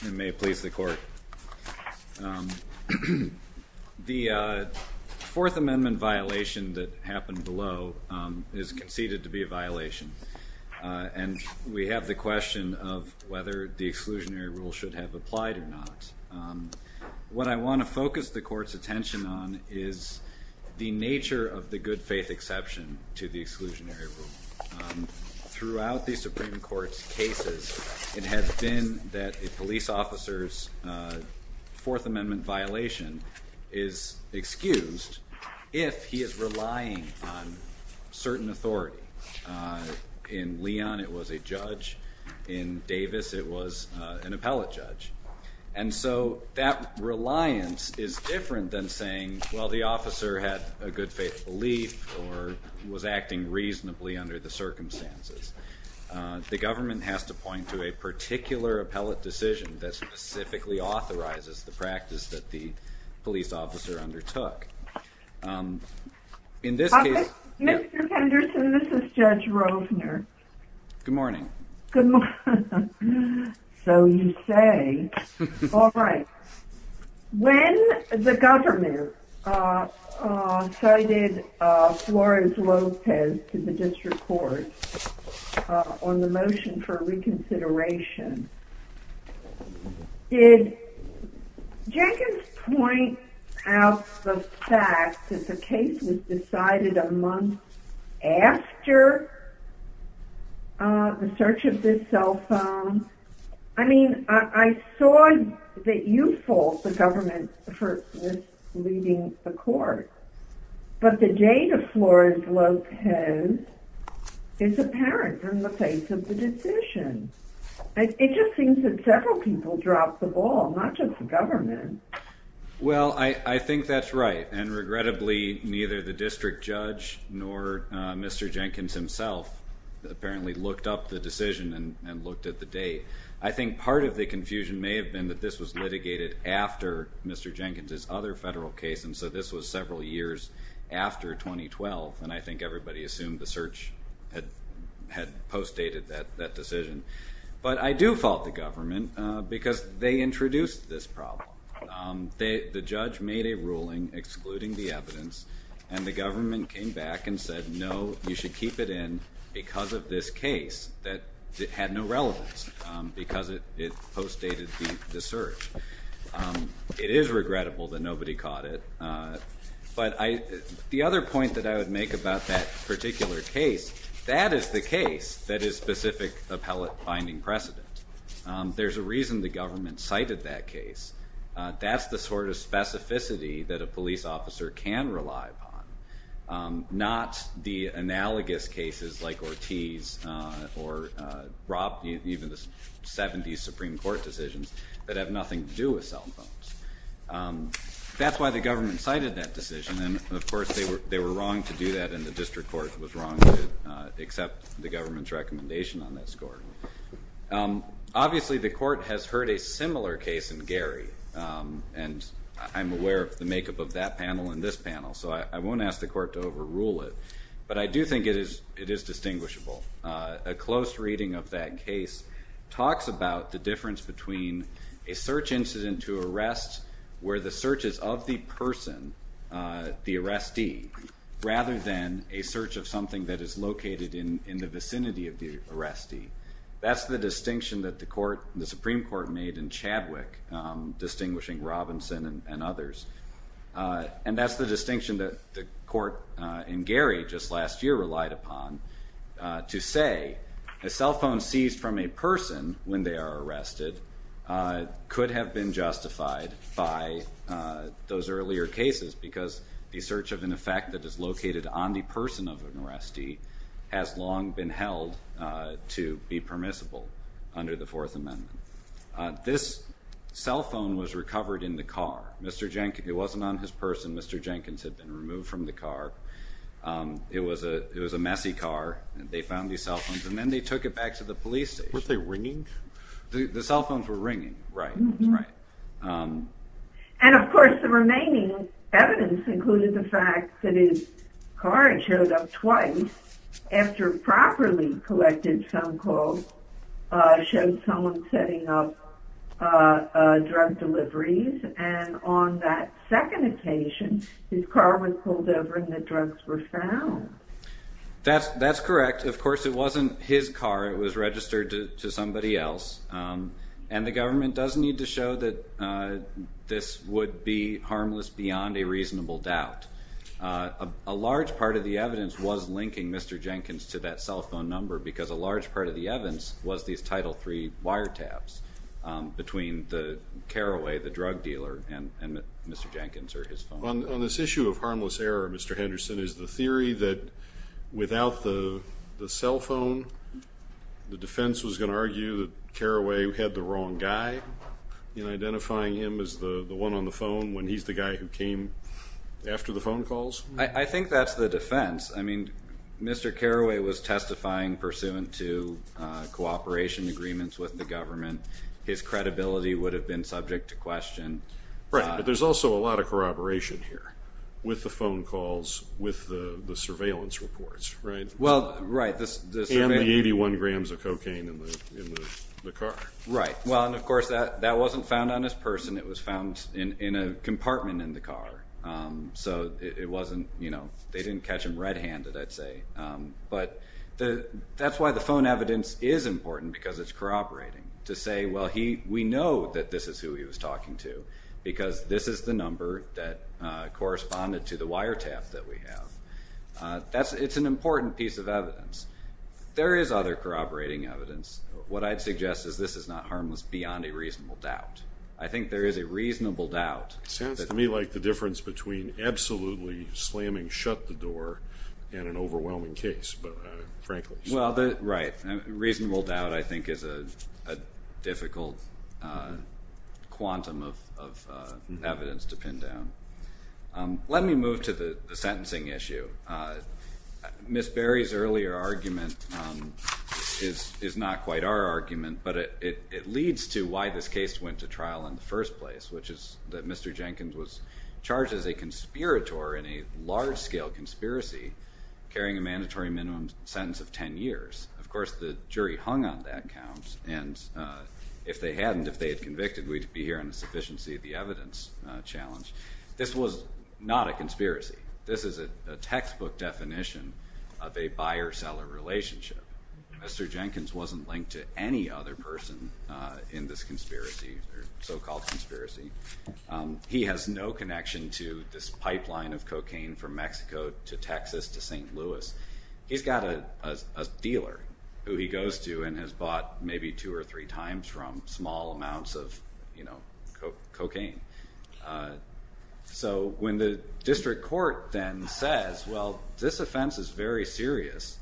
The Fourth Amendment violation that happened below is conceded to be a violation, and we have the question of whether the exclusionary rule should have applied or not. What I want to focus the Court's attention on is the nature of the good faith exception to the exclusionary rule. Throughout the Supreme Court's cases, it has been that a police officer's Fourth Amendment violation is excused if he is relying on certain authority. In Leon, it was a judge. In Davis, it was an appellate judge. And so that reliance is different than saying, well, the officer had a good faith belief or was acting reasonably under the circumstances. The government has to point to a particular appellate decision that specifically authorizes the practice that the police officer undertook. Mr. Henderson, this is Judge Rovner. Good morning. Good morning. So you say. All right. When the government cited Flores-Lopez to the District Court on the motion for reconsideration, did Jenkins point out the fact that the case was decided a month after the search of this cell phone? I mean, I saw that you fault the government for leaving the court, but the date of Flores-Lopez is apparent in the face of the decision. It just seems that several people dropped the ball, not just the government. Well, I think that's right. And regrettably, neither the district judge nor Mr. Jenkins himself apparently looked up the decision and looked at the date. I think part of the confusion may have been that this was litigated after Mr. Jenkins' other federal case. And so this was several years after 2012. And I think everybody assumed the search had postdated that decision. But I do fault the government because they introduced this problem. The judge made a ruling excluding the evidence, and the government came back and said, no, you should keep it in because of this case that had no relevance because it postdated the search. It is regrettable that nobody caught it. But the other point that I would make about that particular case, that is the case that is specific appellate binding precedent. There's a reason the government cited that case. That's the sort of specificity that a police officer can rely upon, not the analogous cases like Ortiz or Rob, even the 70s Supreme Court decisions that have nothing to do with cell phones. That's why the government cited that decision. And, of course, they were wrong to do that, and the district court was wrong to accept the government's recommendation on that score. Obviously, the court has heard a similar case in Gary. And I'm aware of the makeup of that panel and this panel, so I won't ask the court to overrule it. But I do think it is distinguishable. A close reading of that case talks about the difference between a search incident to arrest where the search is of the person, the arrestee, rather than a search of something that is located in the vicinity of the arrestee. That's the distinction that the Supreme Court made in Chadwick, distinguishing Robinson and others. And that's the distinction that the court in Gary just last year relied upon to say a cell phone seized from a person when they are arrested could have been justified by those earlier cases because the search of an effect that is located on the person of an arrestee has long been held to be permissible under the Fourth Amendment. This cell phone was recovered in the car. It wasn't on his person. Mr. Jenkins had been removed from the car. It was a messy car. They found these cell phones, and then they took it back to the police station. Were they ringing? The cell phones were ringing, right. And, of course, the remaining evidence included the fact that his car had showed up twice after properly collected phone calls, showed someone setting up drug deliveries. And on that second occasion, his car was pulled over and the drugs were found. That's correct. Of course, it wasn't his car. It was registered to somebody else. And the government does need to show that this would be harmless beyond a reasonable doubt. A large part of the evidence was linking Mr. Jenkins to that cell phone number because a large part of the evidence was these Title III wiretaps between the caraway, the drug dealer, and Mr. Jenkins or his phone. On this issue of harmless error, Mr. Henderson, is the theory that without the cell phone, the defense was going to argue that Caraway had the wrong guy in identifying him as the one on the phone when he's the guy who came after the phone calls? I think that's the defense. I mean, Mr. Caraway was testifying pursuant to cooperation agreements with the government. His credibility would have been subject to question. Right, but there's also a lot of corroboration here with the phone calls, with the surveillance reports, right? Well, right. And the 81 grams of cocaine in the car. Right. Well, and, of course, that wasn't found on his person. It was found in a compartment in the car. So it wasn't, you know, they didn't catch him red-handed, I'd say. But that's why the phone evidence is important because it's corroborating to say, well, we know that this is who he was talking to because this is the number that corresponded to the wiretap that we have. It's an important piece of evidence. There is other corroborating evidence. What I'd suggest is this is not harmless beyond a reasonable doubt. I think there is a reasonable doubt. It sounds to me like the difference between absolutely slamming shut the door and an overwhelming case, frankly. Well, right. A reasonable doubt, I think, is a difficult quantum of evidence to pin down. Let me move to the sentencing issue. Ms. Berry's earlier argument is not quite our argument, but it leads to why this case went to trial in the first place, which is that Mr. Jenkins was charged as a conspirator in a large-scale conspiracy carrying a mandatory minimum sentence of 10 years. Of course, the jury hung on that count, and if they hadn't, if they had convicted, we'd be here on the sufficiency of the evidence challenge. This was not a conspiracy. This is a textbook definition of a buyer-seller relationship. Mr. Jenkins wasn't linked to any other person in this conspiracy or so-called conspiracy. He has no connection to this pipeline of cocaine from Mexico to Texas to St. Louis. He's got a dealer who he goes to and has bought maybe two or three times from small amounts of, you know, cocaine. So when the district court then says, well, this offense is very serious,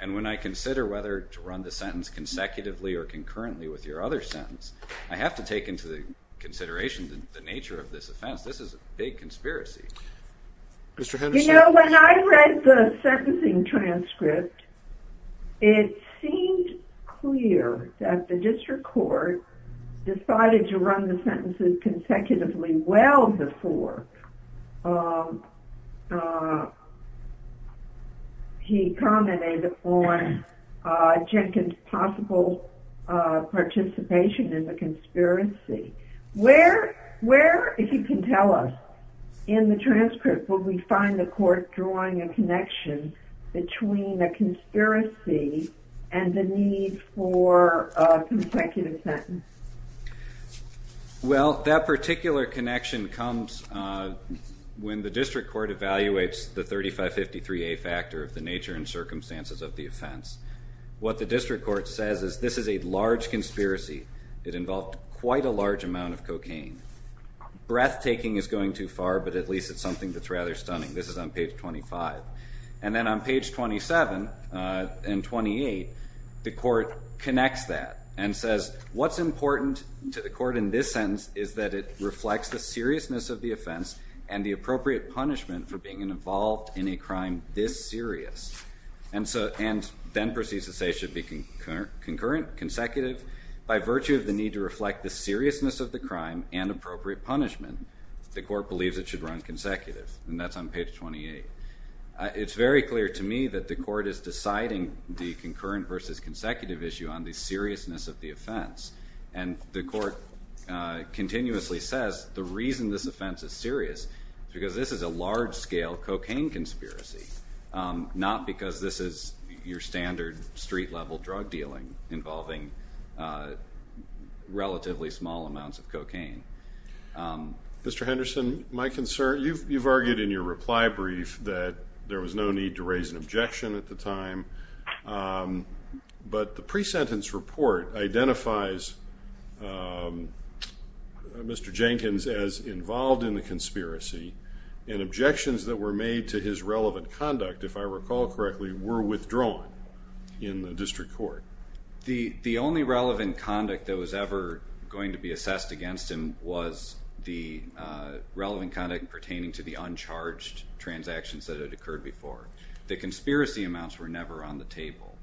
and when I consider whether to run the sentence consecutively or concurrently with your other sentence, I have to take into consideration the nature of this offense. This is a big conspiracy. You know, when I read the sentencing transcript, it seemed clear that the district court decided to run the sentences consecutively well before he commented on Jenkins' possible participation in the conspiracy. Where, if you can tell us, in the transcript would we find the court drawing a connection between a conspiracy and the need for a consecutive sentence? Well, that particular connection comes when the district court evaluates the 3553A factor of the nature and circumstances of the offense. What the district court says is this is a large conspiracy. It involved quite a large amount of cocaine. Breathtaking is going too far, but at least it's something that's rather stunning. This is on page 25. And then on page 27 and 28, the court connects that and says, what's important to the court in this sentence is that it reflects the seriousness of the offense and the appropriate punishment for being involved in a crime this serious. And then proceeds to say it should be concurrent, consecutive. By virtue of the need to reflect the seriousness of the crime and appropriate punishment, the court believes it should run consecutive. And that's on page 28. It's very clear to me that the court is deciding the concurrent versus consecutive issue on the seriousness of the offense. And the court continuously says the reason this offense is serious is because this is a large-scale cocaine conspiracy, not because this is your standard street-level drug dealing involving relatively small amounts of cocaine. Mr. Henderson, my concern, you've argued in your reply brief that there was no need to raise an objection at the time. But the pre-sentence report identifies Mr. Jenkins as involved in the conspiracy and objections that were made to his relevant conduct, if I recall correctly, were withdrawn in the district court. The only relevant conduct that was ever going to be assessed against him was the relevant conduct pertaining to the uncharged transactions that had occurred before. The conspiracy amounts were never on the table.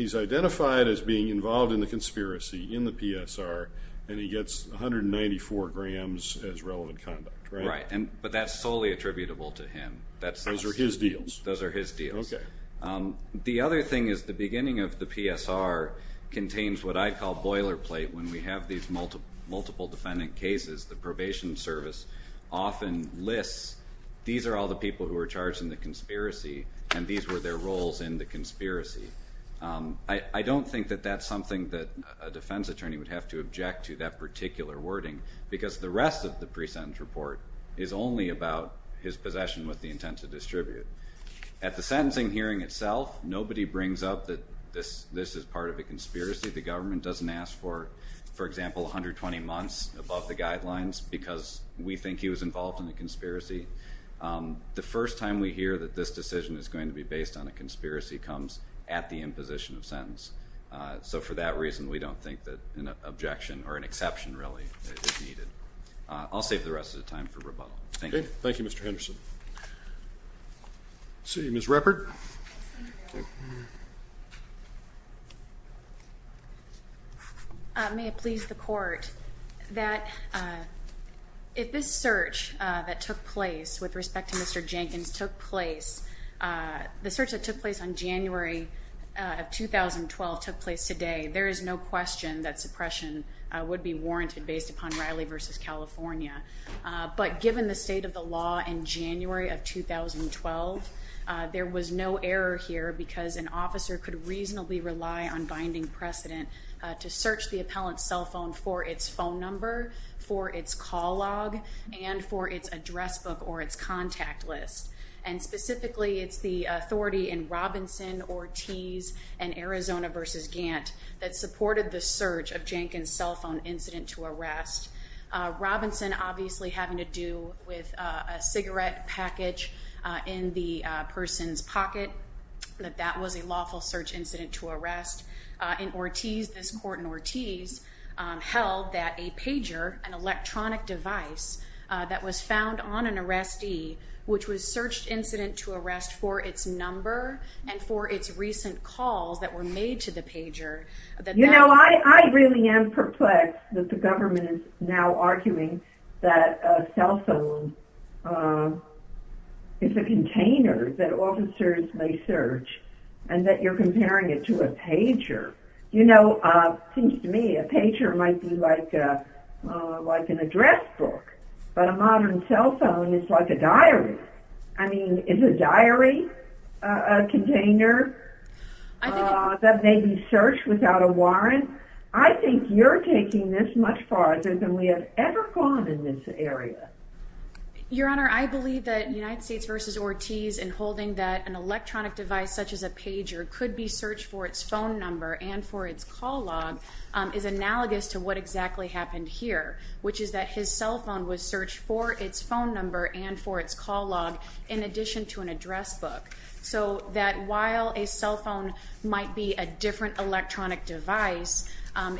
He's identified as being involved in the conspiracy in the PSR, and he gets 194 grams as relevant conduct, right? Right, but that's solely attributable to him. Those are his deals? Those are his deals. Okay. The other thing is the beginning of the PSR contains what I call boilerplate. When we have these multiple defendant cases, the probation service often lists, these are all the people who were charged in the conspiracy, and these were their roles in the conspiracy. I don't think that that's something that a defense attorney would have to object to, that particular wording, because the rest of the pre-sentence report is only about his possession with the intent to distribute. At the sentencing hearing itself, nobody brings up that this is part of a conspiracy. The government doesn't ask for, for example, 120 months above the guidelines because we think he was involved in the conspiracy. The first time we hear that this decision is going to be based on a conspiracy comes at the imposition of sentence. So for that reason, we don't think that an objection or an exception really is needed. I'll save the rest of the time for rebuttal. Thank you. Thank you, Mr. Henderson. Let's see, Ms. Ruppert. Ms. Ruppert. May it please the court that if this search that took place with respect to Mr. Jenkins took place, the search that took place on January of 2012 took place today, there is no question that suppression would be warranted based upon Riley v. California. But given the state of the law in January of 2012, there was no error here because an officer could reasonably rely on binding precedent to search the appellant's cell phone for its phone number, for its call log, and for its address book or its contact list. And specifically, it's the authority in Robinson v. Ortiz and Arizona v. Gantt that supported the search of Jenkins' cell phone incident to arrest. Robinson obviously having to do with a cigarette package in the person's pocket, that that was a lawful search incident to arrest. In Ortiz, this court in Ortiz held that a pager, an electronic device, that was found on an arrestee which was searched incident to arrest for its number and for its recent calls that were made to the pager. You know, I really am perplexed that the government is now arguing that a cell phone is a container that officers may search and that you're comparing it to a pager. You know, it seems to me a pager might be like an address book, I mean, is a diary a container that may be searched without a warrant? I think you're taking this much farther than we have ever gone in this area. Your Honor, I believe that United States v. Ortiz in holding that an electronic device such as a pager could be searched for its phone number and for its call log is analogous to what exactly happened here, which is that his cell phone was searched for its phone number and for its call log in addition to an address book. So that while a cell phone might be a different electronic device,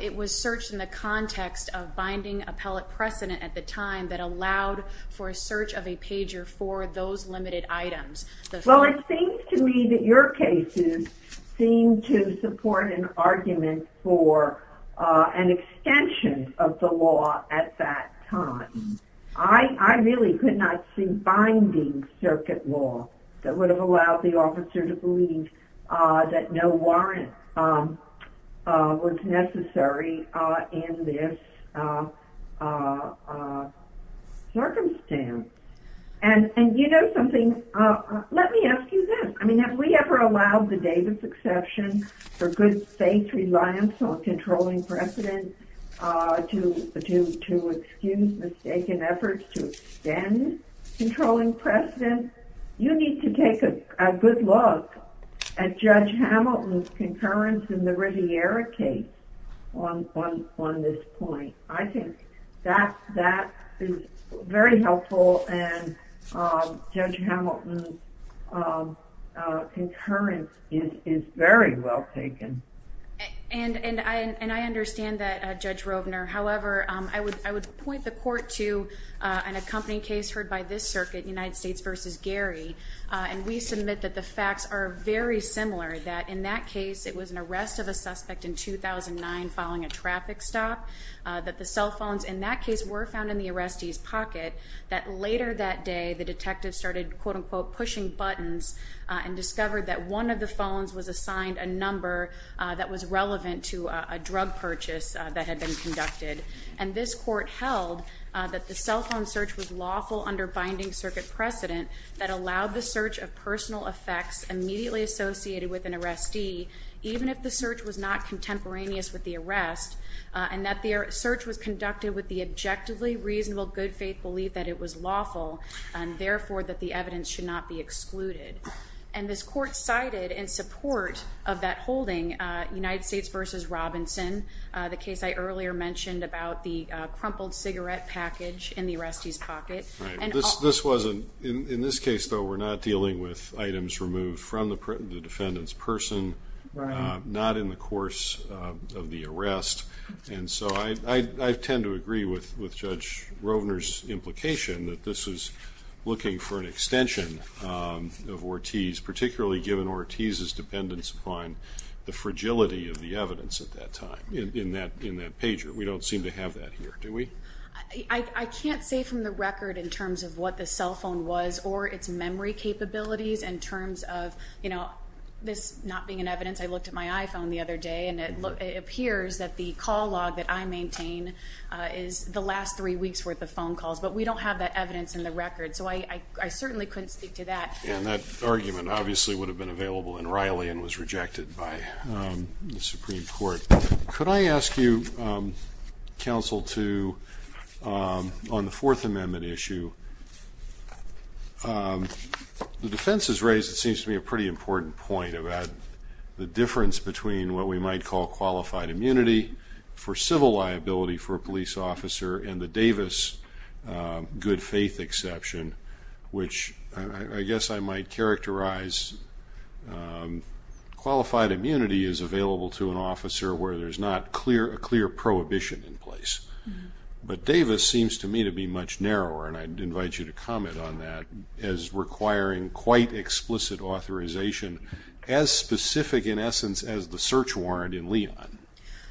it was searched in the context of binding appellate precedent at the time that allowed for a search of a pager for those limited items. Well, it seems to me that your cases seem to support an argument for an extension of the law at that time. I really could not see binding circuit law that would have allowed the officer to believe that no warrant was necessary in this circumstance. And you know something, let me ask you this. I mean, have we ever allowed the Davis exception for good faith reliance on controlling precedent to excuse mistaken efforts to extend controlling precedent? You need to take a good look at Judge Hamilton's concurrence in the Riviera case on this point. I think that is very helpful, and Judge Hamilton's concurrence is very well taken. And I understand that, Judge Rovner. However, I would point the court to an accompanying case heard by this circuit, United States v. Gary, and we submit that the facts are very similar, that in that case it was an arrest of a suspect in 2009 following a traffic stop, that the cell phones in that case were found in the arrestee's pocket, that later that day the detective started pushing buttons and discovered that one of the phones was assigned a number that was relevant to a drug purchase that had been conducted. And this court held that the cell phone search was lawful under binding circuit precedent that allowed the search of personal effects immediately associated with an arrestee, even if the search was not contemporaneous with the arrest, and that the search was conducted with the objectively reasonable good faith belief that it was lawful, and therefore that the evidence should not be excluded. And this court cited in support of that holding, United States v. Robinson, the case I earlier mentioned about the crumpled cigarette package in the arrestee's pocket. Right. In this case, though, we're not dealing with items removed from the defendant's person, not in the course of the arrest. And so I tend to agree with Judge Rovner's implication that this was looking for an extension of Ortiz, particularly given Ortiz's dependence upon the fragility of the evidence at that time in that pager. We don't seem to have that here, do we? I can't say from the record in terms of what the cell phone was or its memory capabilities in terms of this not being an evidence. I looked at my iPhone the other day, and it appears that the call log that I maintain is the last three weeks' worth of phone calls. But we don't have that evidence in the record, so I certainly couldn't speak to that. And that argument obviously would have been available in Riley and was rejected by the Supreme Court. Could I ask you, Counsel, to, on the Fourth Amendment issue, the defense has raised, it seems to me, a pretty important point about the difference between what we might call qualified immunity for civil liability for a police officer and the Davis good-faith exception, which I guess I might characterize. Qualified immunity is available to an officer where there's not a clear prohibition in place. But Davis seems to me to be much narrower, and I'd invite you to comment on that, as requiring quite explicit authorization, as specific in essence as the search warrant in Leon.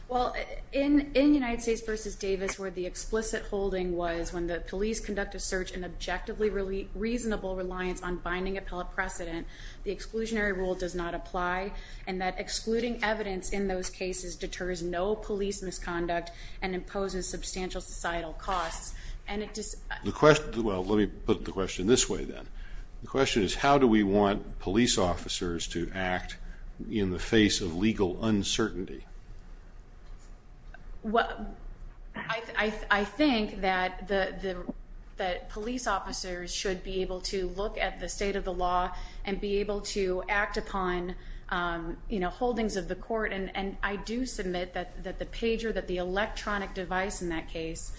Well, in United States v. Davis, where the explicit holding was when the police conduct a search in objectively reasonable reliance on binding appellate precedent, the exclusionary rule does not apply, and that excluding evidence in those cases deters no police misconduct and imposes substantial societal costs. Well, let me put the question this way, then. The question is, how do we want police officers to act in the face of legal uncertainty? Well, I think that police officers should be able to look at the state of the law and be able to act upon holdings of the court. And I do submit that the pager, that the electronic device in that case,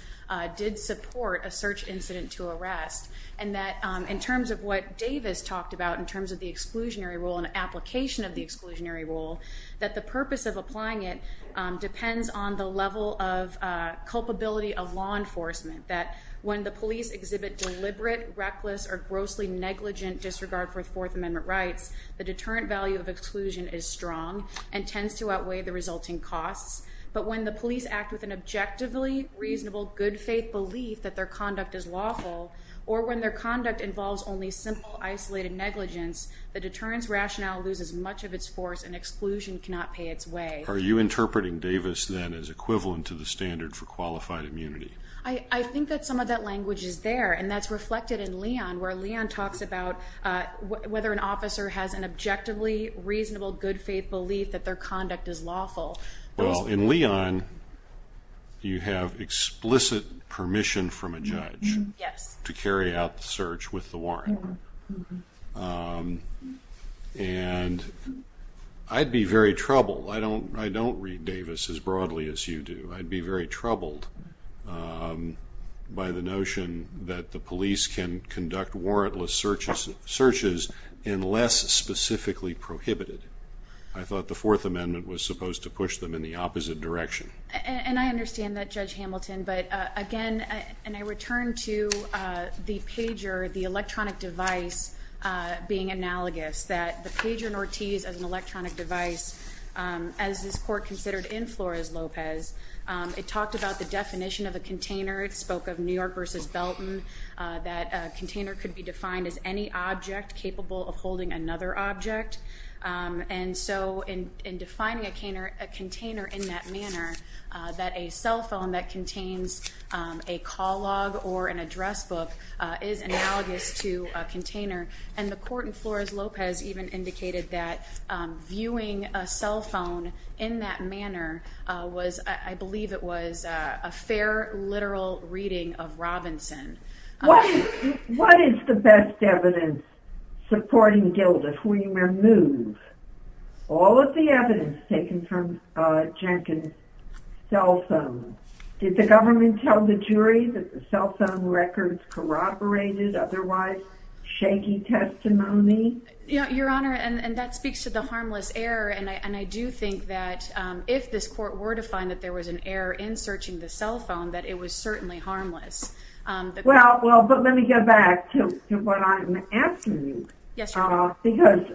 did support a search incident to arrest, and that in terms of what Davis talked about in terms of the exclusionary rule and application of the exclusionary rule, that the purpose of applying it depends on the level of culpability of law enforcement, that when the police exhibit deliberate, reckless, or grossly negligent disregard for Fourth Amendment rights, the deterrent value of exclusion is strong and tends to outweigh the resulting costs. But when the police act with an objectively reasonable, good-faith belief that their conduct is lawful, or when their conduct involves only simple, isolated negligence, the deterrent's rationale loses much of its force and exclusion cannot pay its way. Are you interpreting Davis, then, as equivalent to the standard for qualified immunity? I think that some of that language is there, and that's reflected in Leon, where Leon talks about whether an officer has an objectively reasonable, good-faith belief that their conduct is lawful. Well, in Leon, you have explicit permission from a judge to carry out the search with the warrant. And I'd be very troubled. I don't read Davis as broadly as you do. I'd be very troubled by the notion that the police can conduct warrantless searches unless specifically prohibited. I thought the Fourth Amendment was supposed to push them in the opposite direction. And I understand that, Judge Hamilton. But, again, and I return to the pager, the electronic device, being analogous, that the pager in Ortiz as an electronic device, as this Court considered in Flores-Lopez, it talked about the definition of a container. It spoke of New York v. Belton, that a container could be defined as any object capable of holding another object. And so in defining a container in that manner, that a cell phone that contains a call log or an address book is analogous to a container. And the Court in Flores-Lopez even indicated that viewing a cell phone in that manner was, I believe it was, a fair, literal reading of Robinson. What is the best evidence supporting Gildas? We removed all of the evidence taken from Jenkins' cell phone. Did the government tell the jury that the cell phone records corroborated otherwise shaky testimony? Your Honor, and that speaks to the harmless error. And I do think that if this Court were to find that there was an error in searching the cell phone, that it was certainly harmless. Well, but let me get back to what I'm asking you. Yes, Your Honor. Because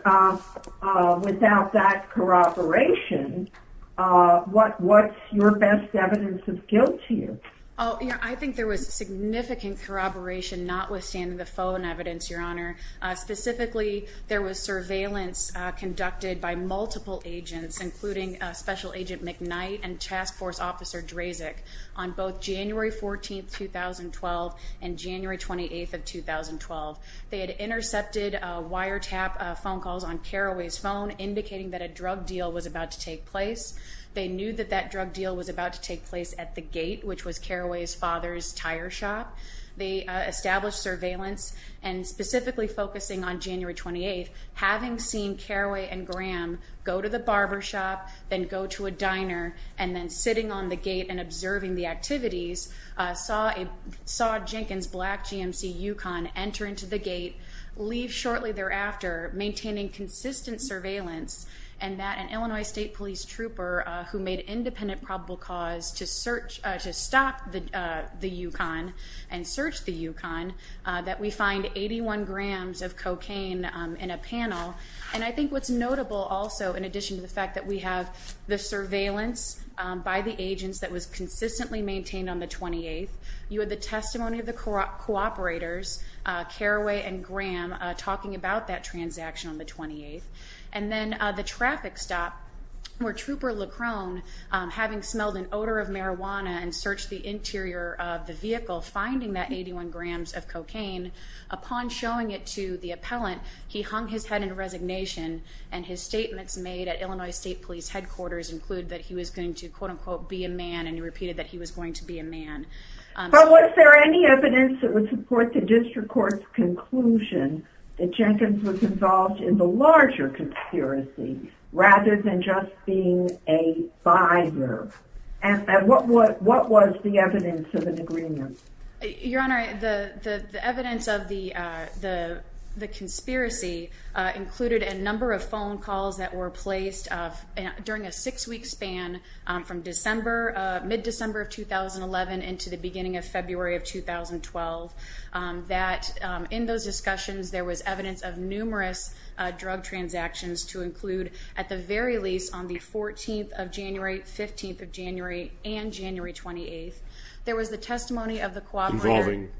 without that corroboration, what's your best evidence of guilt to you? I think there was significant corroboration notwithstanding the phone evidence, Your Honor. Specifically, there was surveillance conducted by multiple agents, including Special Agent McKnight and Task Force Officer Drazek, on both January 14th, 2012 and January 28th of 2012. They had intercepted wiretap phone calls on Carraway's phone, indicating that a drug deal was about to take place. They knew that that drug deal was about to take place at the gate, which was Carraway's father's tire shop. They established surveillance, and specifically focusing on January 28th, having seen Carraway and Graham go to the barber shop, then go to a diner, and then sitting on the gate and observing the activities, saw Jenkins' black GMC Yukon enter into the gate, leave shortly thereafter, maintaining consistent surveillance, and that an Illinois State Police trooper, who made independent probable cause to stop the Yukon and search the Yukon, that we find 81 grams of cocaine in a panel. And I think what's notable also, in addition to the fact that we have the surveillance by the agents that was consistently maintained on the 28th, you had the testimony of the cooperators, Carraway and Graham, talking about that transaction on the 28th. And then the traffic stop, where Trooper LeCron, having smelled an odor of marijuana and searched the interior of the vehicle, finding that 81 grams of cocaine, upon showing it to the appellant, he hung his head in resignation, and his statements made at Illinois State Police headquarters include that he was going to quote-unquote, be a man, and he repeated that he was going to be a man. But was there any evidence that would support the district court's conclusion that Jenkins was involved in the larger conspiracy, rather than just being a buyer? And what was the evidence of an agreement? Your Honor, the evidence of the conspiracy included a number of phone calls that were placed during a six-week span from mid-December of 2011 into the beginning of February of 2012, that in those discussions there was evidence of numerous drug transactions to include, at the very least, on the 14th of January, 15th of January, and January 28th. There was the testimony of the cooperator. Involving?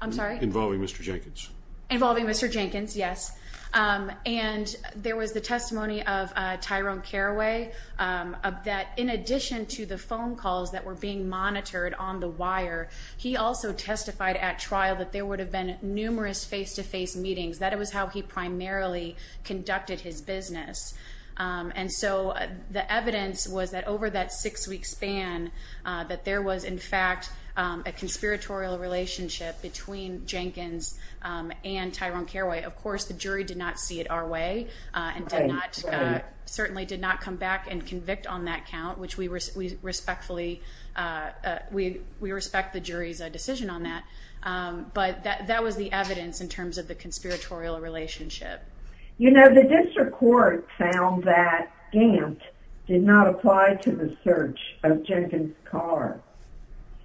I'm sorry? Involving Mr. Jenkins. Involving Mr. Jenkins, yes. And there was the testimony of Tyrone Carraway, that in addition to the phone calls that were being monitored on the wire, he also testified at trial that there would have been numerous face-to-face meetings. That was how he primarily conducted his business. And so the evidence was that over that six-week span that there was, in fact, a conspiratorial relationship between Jenkins and Tyrone Carraway. Of course, the jury did not see it our way and certainly did not come back and convict on that count, which we respectfully respect the jury's decision on that. But that was the evidence in terms of the conspiratorial relationship. You know, the district court found that Gant did not apply to the search of Jenkins' car.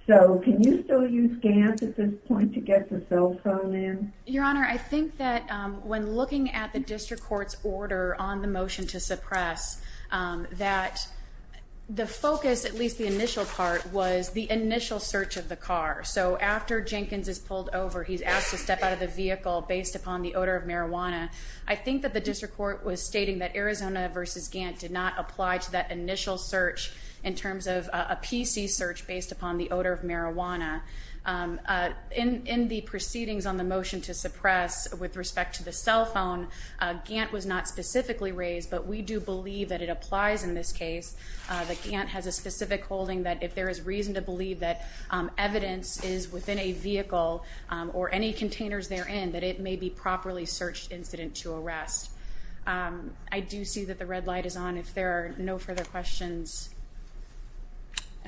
So can you still use Gant at this point to get the cell phone in? Your Honor, I think that when looking at the district court's order on the motion to suppress, that the focus, at least the initial part, was the initial search of the car. So after Jenkins is pulled over, he's asked to step out of the vehicle based upon the odor of marijuana. I think that the district court was stating that Arizona v. Gant did not apply to that initial search in terms of a PC search based upon the odor of marijuana. In the proceedings on the motion to suppress with respect to the cell phone, Gant was not specifically raised, but we do believe that it applies in this case, that Gant has a specific holding that if there is reason to believe that evidence is within a vehicle or any containers therein, that it may be properly searched incident to arrest. I do see that the red light is on if there are no further questions.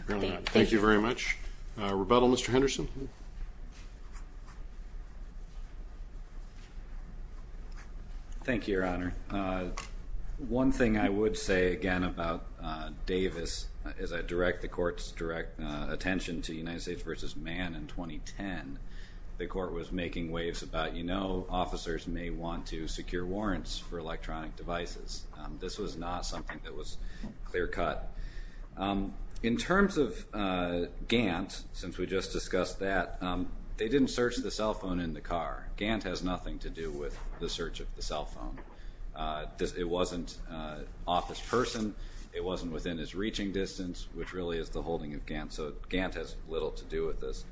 Thank you very much. Rebuttal, Mr. Henderson? Thank you, Your Honor. One thing I would say, again, about Davis is I direct the court's direct attention to United States v. Mann in 2010. The court was making waves about, you know, officers may want to secure warrants for electronic devices. This was not something that was clear cut. In terms of Gant, since we just discussed that, they didn't search the cell phone in the car. Gant has nothing to do with the search of the cell phone. It wasn't office person. It wasn't within his reaching distance, which really is the holding of Gant, so Gant has little to do with this.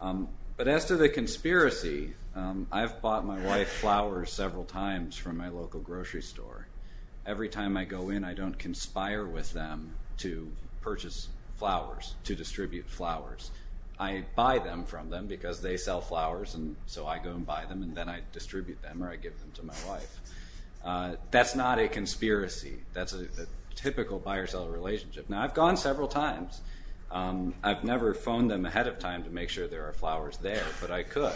But as to the conspiracy, I've bought my wife flowers several times from my local grocery store. Every time I go in, I don't conspire with them to purchase flowers, to distribute flowers. I buy them from them because they sell flowers, and so I go and buy them, and then I distribute them or I give them to my wife. That's not a conspiracy. That's a typical buyer-seller relationship. Now, I've gone several times. I've never phoned them ahead of time to make sure there are flowers there, but I could.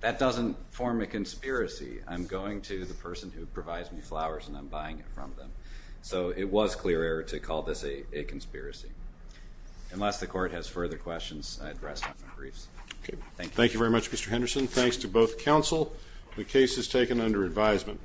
That doesn't form a conspiracy. I'm going to the person who provides me flowers, and I'm buying it from them. So it was clear error to call this a conspiracy. Unless the court has further questions, I address them in briefs. Thank you. Thank you very much, Mr. Henderson. Thanks to both counsel. The case is taken under advisement.